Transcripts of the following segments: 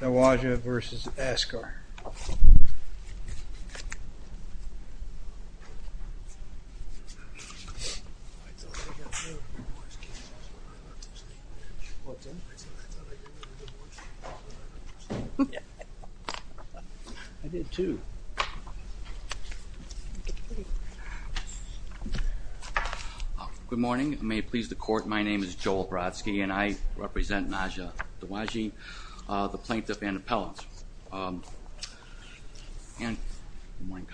Dawaji v. Askar Good morning, may it please the court, my name is Joel Brodsky and I represent Najah Dawaji, the Plaintiff and Appellant. I want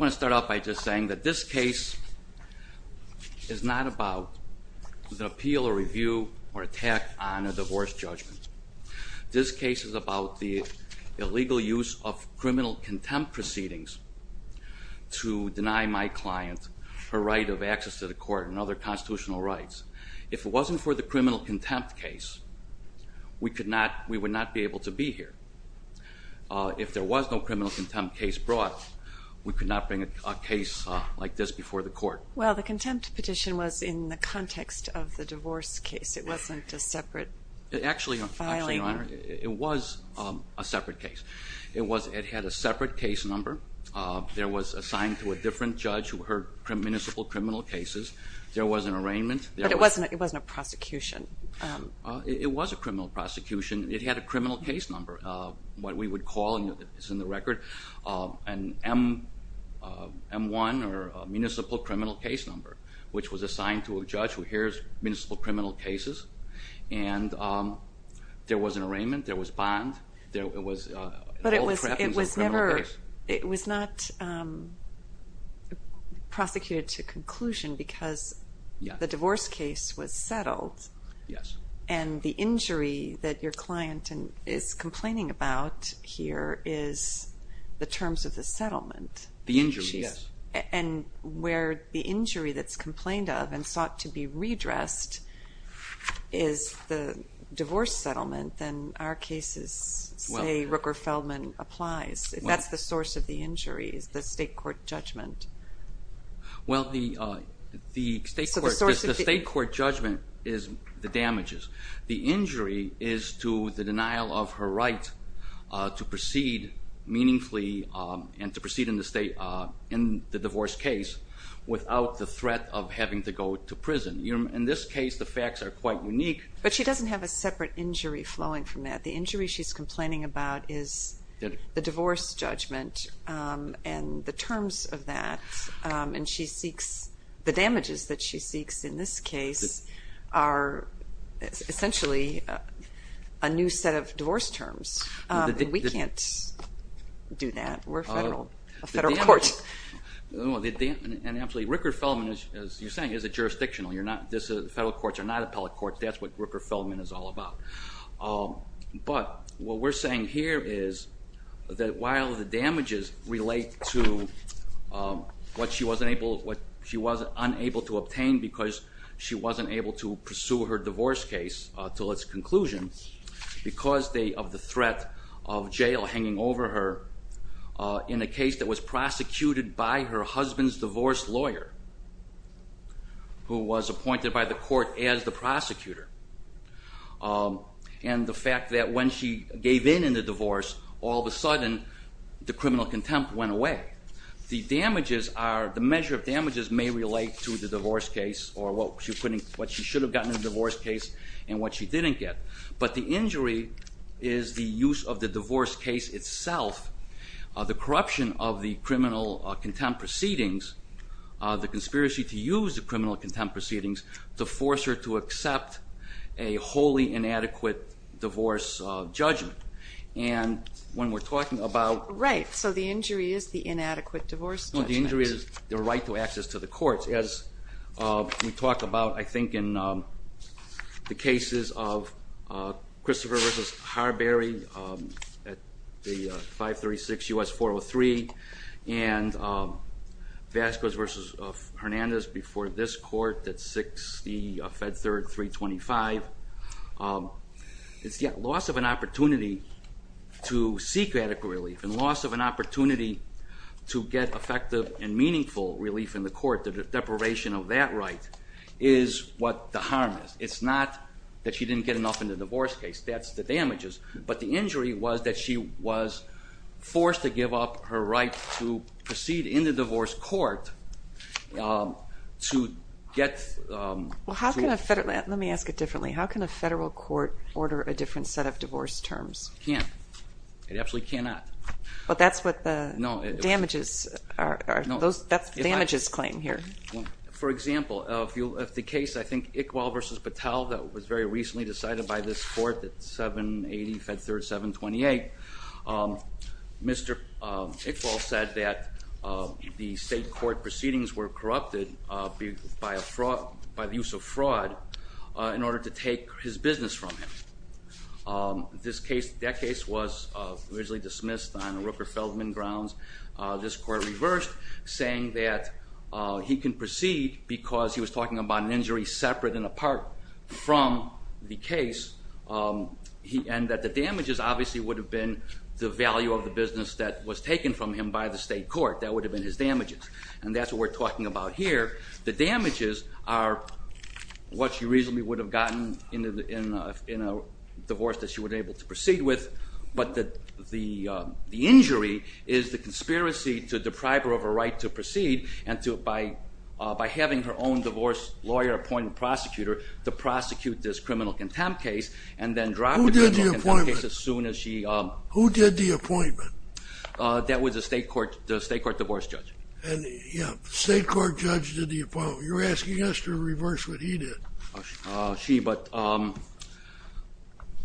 to start off by just saying that this case is not about the appeal or review or attack on a divorce judgment. This case is about the illegal use of criminal contempt proceedings to If it wasn't for the criminal contempt case, we would not be able to be here. If there was no criminal contempt case brought, we could not bring a case like this before the court. Well, the contempt petition was in the context of the divorce case, it wasn't a separate filing. Actually, it was a separate case. It had a separate case number, there was a sign to a different judge who heard But it wasn't a prosecution. It was a criminal prosecution, it had a criminal case number, what we would call, it's in the record, an M1 or a municipal criminal case number, which was assigned to a judge who hears municipal criminal cases and there was an arraignment, there was bond, there was But it was never, it was not prosecuted to conclusion because the divorce case was settled and the injury that your client is complaining about here is the terms of the settlement. The injury, yes. And where the injury that's complained of and sought to be redressed is the divorce settlement, then our cases say that Rooker-Feldman applies. If that's the source of the injury is the state court judgment. Well, the state court judgment is the damages. The injury is to the denial of her right to proceed meaningfully and to proceed in the divorce case without the threat of having to go to prison. In this case, the facts are quite unique. But she doesn't have a separate injury flowing from that. The injury she's complaining about is the divorce judgment and the terms of that and she seeks, the damages that she seeks in this case are essentially a new set of divorce terms. We can't do that. We're a federal court. Absolutely. Rooker-Feldman, as you're saying, is a jurisdictional. Federal courts are not appellate courts. That's what Rooker-Feldman is all about. But what we're saying here is that while the damages relate to what she was unable to obtain because she wasn't able to pursue her divorce case until its conclusion because of the threat of jail hanging over her in a case that was prosecuted by her husband's divorce lawyer who was appointed by the court as the prosecutor. And the fact that when she gave in in the divorce, all of a sudden the criminal contempt went away. The damages are, the measure of damages may relate to the divorce case or what she should have gotten in the divorce case and what she didn't get. But the injury is the use of the divorce case itself. The corruption of the criminal contempt proceedings, the conspiracy to use the to accept a wholly inadequate divorce judgment. And when we're talking about... Right. So the injury is the inadequate divorce judgment. No, the injury is the right to access to the courts. As we talk about, I think, in the cases of Christopher v. Harberry at the 536 U.S. 403 and Vasquez v. 325, it's the loss of an opportunity to seek radical relief and loss of an opportunity to get effective and meaningful relief in the court. The deprivation of that right is what the harm is. It's not that she didn't get enough in the divorce case. That's the damages. But the injury was that she was forced to give up her right to proceed in the divorce court to get... Let me ask it differently. How can a federal court order a different set of divorce terms? It can't. It absolutely cannot. But that's what the damages claim here. For example, if the case, I think, Iqbal v. Patel that was very recently decided by this court at 780 Fed Third 728, Mr. Iqbal said that the state court proceedings were corrupted by the use of fraud in order to take his business from him. That case was originally dismissed on Rooker-Feldman grounds. This court reversed, saying that he can proceed because he was talking about an injury separate and apart from the case and that the damages obviously would have been the value of the business that was taken from him by the state court. That would have been his damages. And that's what we're talking about here. The damages are what she reasonably would have gotten in a divorce that she would have been able to proceed with. But the injury is the conspiracy to deprive her of her right to proceed and by having her own divorce lawyer appoint a prosecutor to prosecute this criminal contempt case and then drop the criminal contempt case as soon as she... Who did the appointment? That was the state court divorce judge. State court judge did the appointment. You're asking us to reverse what he did. She, but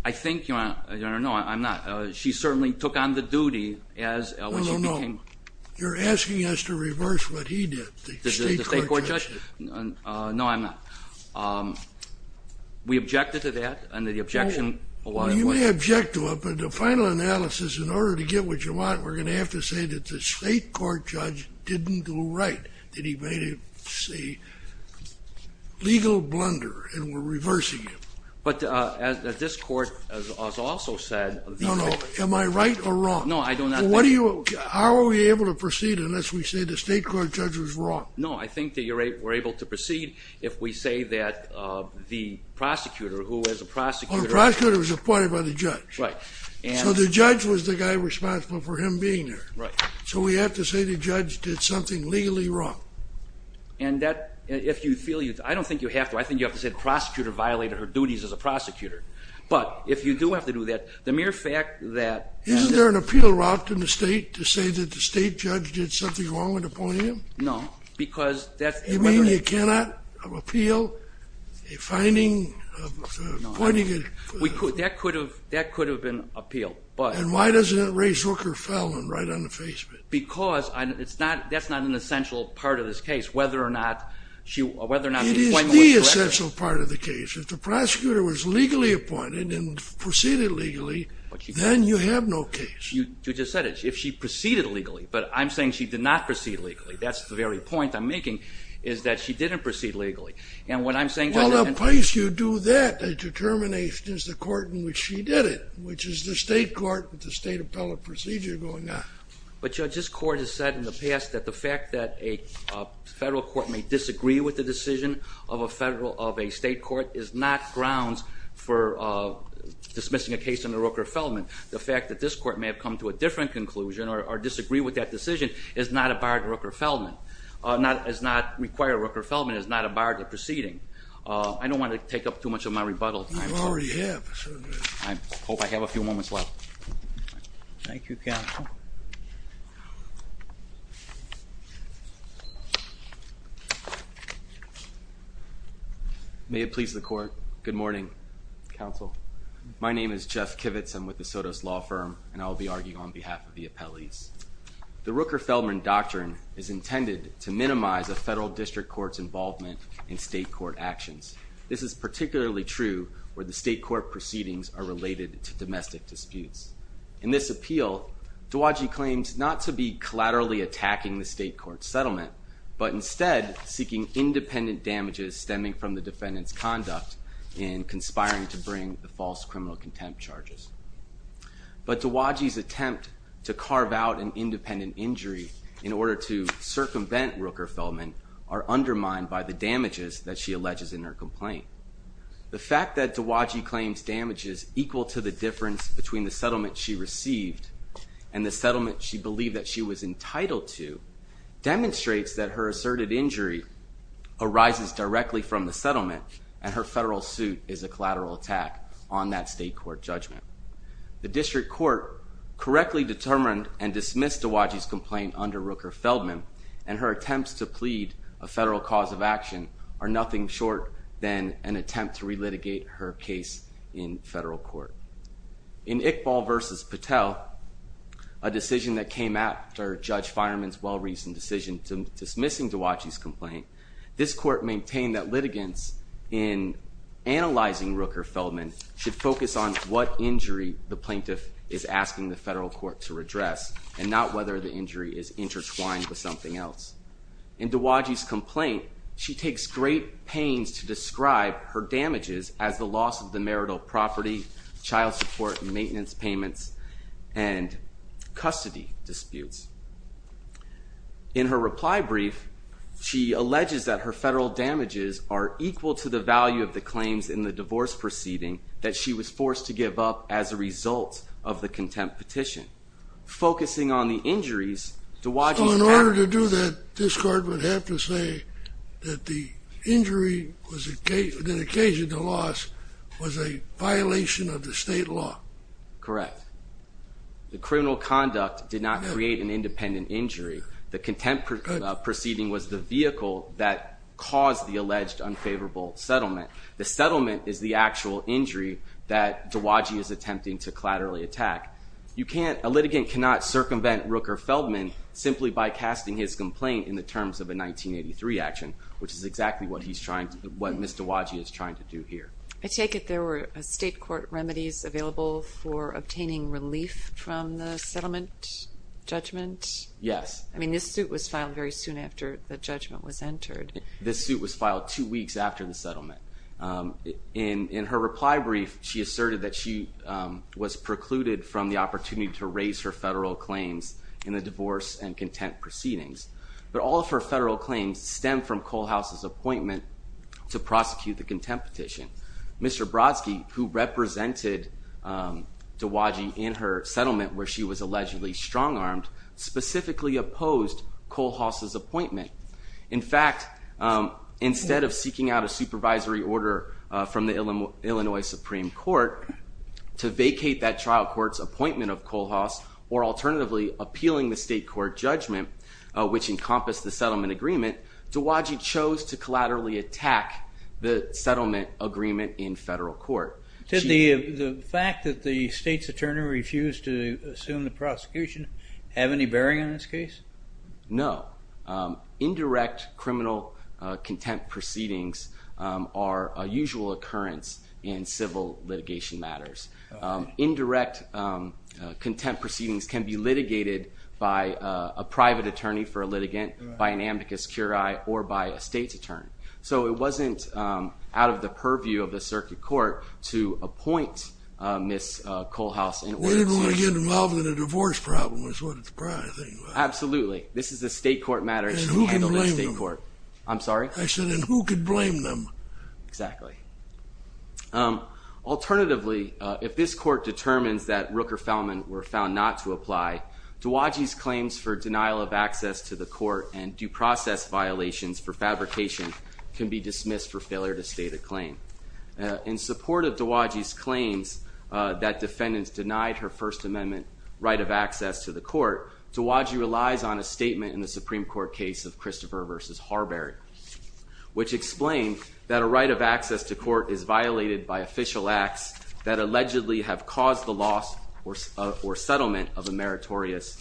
I think... No, I'm not. She certainly took on the duty as... No, no, no. You're asking us to reverse what he did, the state court judge. The state court judge? No, I'm not. We objected to that and the objection... I object to it, but the final analysis, in order to get what you want, we're going to have to say that the state court judge didn't do right, that he made a legal blunder and we're reversing it. But as this court has also said... No, no. Am I right or wrong? No, I do not think... How are we able to proceed unless we say the state court judge was wrong? No, I think that you're able to proceed if we say that the prosecutor, who was a prosecutor... Oh, the prosecutor was appointed by the judge. Right. So the judge was the guy responsible for him being there. Right. So we have to say the judge did something legally wrong. And that, if you feel you... I don't think you have to. I think you have to say the prosecutor violated her duties as a prosecutor. But if you do have to do that, the mere fact that... Isn't there an appeal route in the state to say that the state judge did something wrong and appointed him? No, because... You mean you cannot appeal a finding of appointing a... That could have been appealed, but... And why doesn't it raise Hooker-Feldman right on the face of it? Because that's not an essential part of this case, whether or not she... It is the essential part of the case. If the prosecutor was legally appointed and proceeded legally, then you have no case. You just said it. If she proceeded legally. But I'm saying she did not proceed legally. That's the very point I'm making, is that she didn't proceed legally. And what I'm saying... Well, the place you do that, the determination is the court in which she did it, which is the state court with the state appellate procedure going on. But Judge, this court has said in the past that the fact that a federal court may disagree with the decision of a state court is not grounds for dismissing a case under Hooker-Feldman. The fact that this court may have come to a different conclusion or disagree with that decision is not a bar to Hooker-Feldman, does not require Hooker-Feldman, is not a bar to proceeding. I don't want to take up too much of my rebuttal time. You already have. I hope I have a few moments left. Thank you, counsel. May it please the court. Good morning, counsel. My name is Jeff Kivitz. I'm with the Sotos Law Firm, and I'll be arguing on behalf of the appellees. The Rooker-Feldman Doctrine is intended to minimize a federal district court's involvement in state court actions. This is particularly true where the state court proceedings are related to domestic disputes. In this appeal, Dowagee claims not to be collaterally attacking the state court settlement, but instead seeking independent damages stemming from the defendant's conduct in conspiring to bring the false criminal contempt charges. But Dowagee's attempt to carve out an independent injury in order to circumvent Rooker-Feldman are undermined by the damages that she alleges in her complaint. The fact that Dowagee claims damages equal to the difference between the settlement she received and the settlement she believed that she was entitled to and her federal suit is a collateral attack on that state court judgment. The district court correctly determined and dismissed Dowagee's complaint under Rooker-Feldman, and her attempts to plead a federal cause of action are nothing short than an attempt to relitigate her case in federal court. In Iqbal v. Patel, a decision that came after Judge Fireman's well-reasoned decision to dismissing Dowagee's complaint, this court maintained that litigants in analyzing Rooker-Feldman should focus on what injury the plaintiff is asking the federal court to redress and not whether the injury is intertwined with something else. In Dowagee's complaint, she takes great pains to describe her damages as the loss of the marital property, child support and maintenance payments, and custody disputes. In her reply brief, she alleges that her federal damages are equal to the value of the claims in the divorce proceeding that she was forced to give up as a result of the contempt petition. Focusing on the injuries, Dowagee's parents... So in order to do that, this court would have to say that the injury, the occasion of the loss, was a violation of the state law. Correct. The criminal conduct did not create an independent injury. The contempt proceeding was the vehicle that caused the alleged unfavorable settlement. The settlement is the actual injury that Dowagee is attempting to collaterally attack. A litigant cannot circumvent Rooker-Feldman simply by casting his complaint in the terms of a 1983 action, which is exactly what Ms. Dowagee is trying to do here. I take it there were state court remedies available for obtaining relief from the settlement judgment? Yes. I mean, this suit was filed very soon after the judgment was entered. This suit was filed two weeks after the settlement. In her reply brief, she asserted that she was precluded from the opportunity to raise her federal claims in the divorce and contempt proceedings. But all of her federal claims stem from Kohlhaas' appointment to prosecute the contempt petition. Mr. Brodsky, who represented Dowagee in her settlement where she was allegedly strong-armed, specifically opposed Kohlhaas' appointment. In fact, instead of seeking out a supervisory order from the Illinois Supreme Court to vacate that trial court's appointment of Kohlhaas, or alternatively appealing the state court judgment, which encompassed the settlement agreement, Dowagee chose to collaterally attack the settlement agreement in federal court. Did the fact that the state's attorney refused to assume the prosecution have any bearing on this case? No. Indirect criminal contempt proceedings are a usual occurrence in civil litigation matters. Indirect contempt proceedings can be litigated by a private attorney for a litigant, by an amicus curiae, or by a state's attorney. So it wasn't out of the purview of the circuit court to appoint Ms. Kohlhaas. They didn't want to get involved in a divorce problem, is what the prior thing was. Absolutely. This is a state court matter. And who can blame them? I'm sorry? I said, and who can blame them? Exactly. Alternatively, if this court determines that Rooker-Feldman were found not to apply, Dowagee's claims for denial of access to the court and due process violations for fabrication can be dismissed for failure to state a claim. In support of Dowagee's claims that defendants denied her First Amendment right of access to the court, Dowagee relies on a statement in the Supreme Court case of Christopher v. Harberry, which explained that a right of access to court is violated by official acts that allegedly have caused the loss or settlement of a meritorious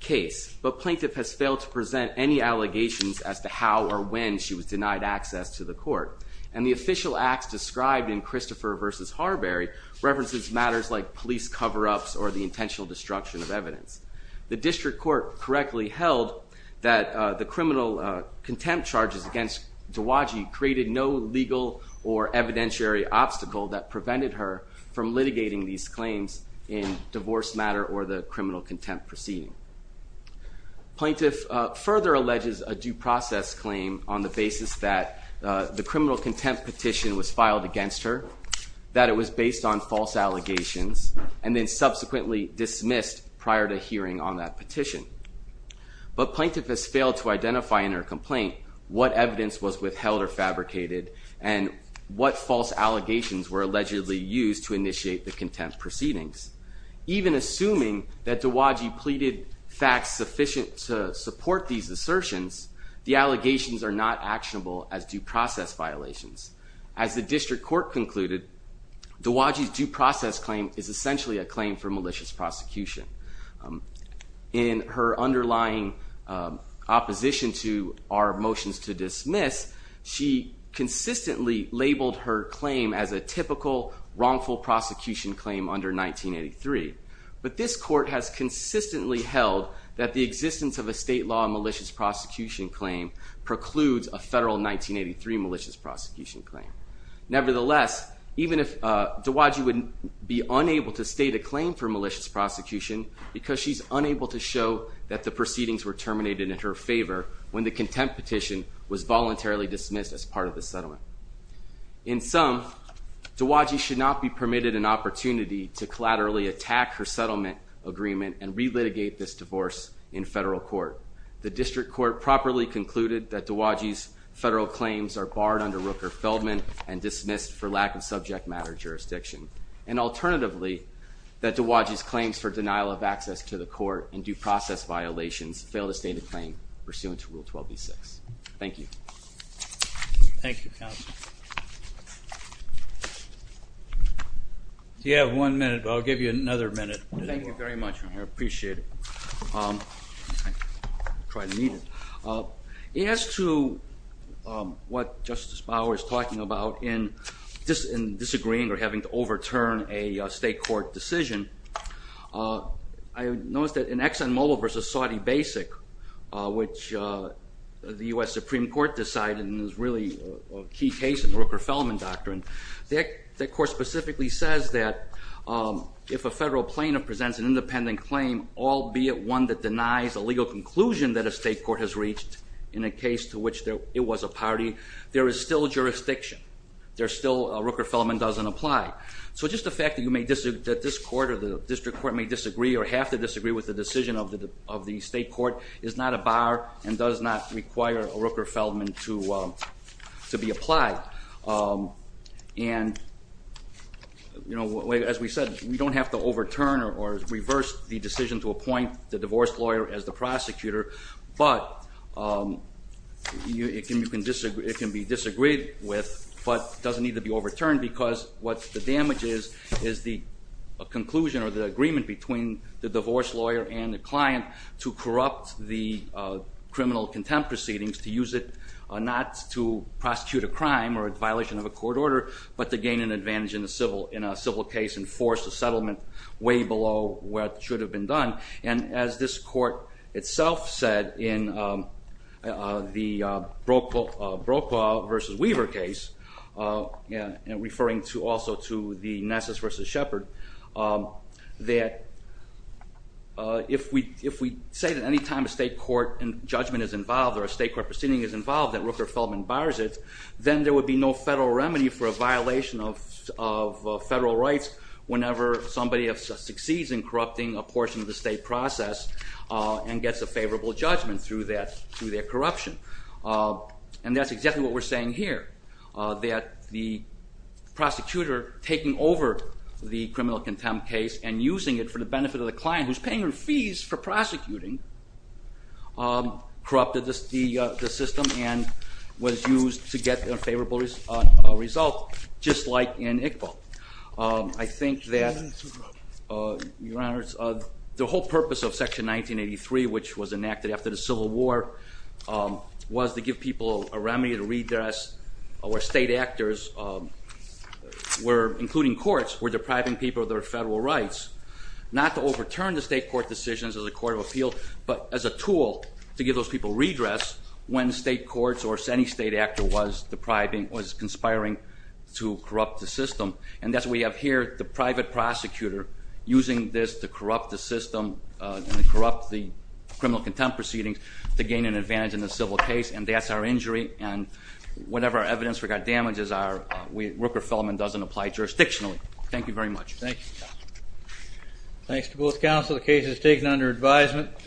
case. But Plaintiff has failed to present any allegations as to how or when she was denied access to the court. And the official acts described in Christopher v. Harberry references matters like police cover-ups or the intentional destruction of evidence. The district court correctly held that the criminal contempt charges against Dowagee created no legal or evidentiary obstacle that prevented her from litigating these claims in divorce matter or the criminal contempt proceeding. Plaintiff further alleges a due process claim on the basis that the criminal contempt petition was filed against her, that it was based on false allegations, and then subsequently dismissed prior to hearing on that petition. But Plaintiff has failed to identify in her complaint what evidence was withheld or fabricated and what false allegations were allegedly used to initiate the contempt proceedings. Even assuming that Dowagee pleaded facts sufficient to support these assertions, the allegations are not actionable as due process violations. As the district court concluded, Dowagee's due process claim is essentially a claim for malicious prosecution. In her underlying opposition to our motions to dismiss, she consistently labeled her claim as a typical wrongful prosecution claim under 1983. But this court has consistently held that the existence of a state law malicious prosecution claim precludes a federal 1983 malicious prosecution claim. Nevertheless, even if Dowagee would be unable to state a claim for malicious prosecution because she's unable to show that the proceedings were terminated in her favor when the contempt petition was voluntarily dismissed as part of the settlement. In sum, Dowagee should not be permitted an opportunity to collaterally attack her settlement agreement and relitigate this divorce in federal court. The district court properly concluded that Dowagee's federal claims are barred under Rooker-Feldman and dismissed for lack of subject matter jurisdiction. And alternatively, that Dowagee's claims for denial of access to the court and due process violations fail to state a claim pursuant to Rule 12b-6. Thank you. Thank you, counsel. You have one minute, but I'll give you another minute. Thank you very much, I appreciate it. As to what Justice Bauer is talking about in disagreeing or having to overturn a state court decision, I noticed that in Exxon Mobil v. Saudi Basic, which the U.S. Supreme Court decided and is really a key case in the Rooker-Feldman doctrine, that court specifically says that if a federal plaintiff presents an independent claim, albeit one that denies a legal conclusion that a state court has reached in a case to which it was a party, there is still jurisdiction. Rooker-Feldman doesn't apply. So just the fact that this court or the district court may disagree or have to disagree with the decision of the state court is not a bar and does not require a Rooker-Feldman to be applied. And as we said, we don't have to overturn or reverse the decision to appoint the divorced lawyer as the prosecutor, but it can be disagreed with but doesn't need to be overturned because what the damage is is the conclusion or the agreement between the divorced lawyer and the client to corrupt the criminal contempt proceedings to use it not to prosecute a crime or a violation of a court order but to gain an advantage in a civil case and force a settlement way below where it should have been done. And as this court itself said in the Brokaw v. Weaver case, referring also to the Nessus v. Shepard, that if we say that any time a state court judgment is involved or a state court proceeding is involved that Rooker-Feldman bars it, then there would be no federal remedy for a violation of federal rights whenever somebody succeeds in corrupting a portion of the state process and gets a favorable judgment through their corruption. And that's exactly what we're saying here, that the prosecutor taking over the criminal contempt case and using it for the benefit of the client, who's paying her fees for prosecuting, corrupted the system and was used to get a favorable result, just like in Iqbal. I think that the whole purpose of Section 1983, which was enacted after the Civil War, was to give people a remedy to redress where state actors, including courts, were depriving people of their federal rights, not to overturn the state court decisions as a court of appeal but as a tool to give those people redress when state courts or any state actor was conspiring to corrupt the system. And that's what we have here, the private prosecutor using this to corrupt the system and corrupt the criminal contempt proceedings to gain an advantage in the civil case, and that's our injury. And whatever our evidence for damages are, Rooker-Feldman doesn't apply jurisdictionally. Thank you very much. Thank you. Thanks to both counsel. The case is taken under advisement.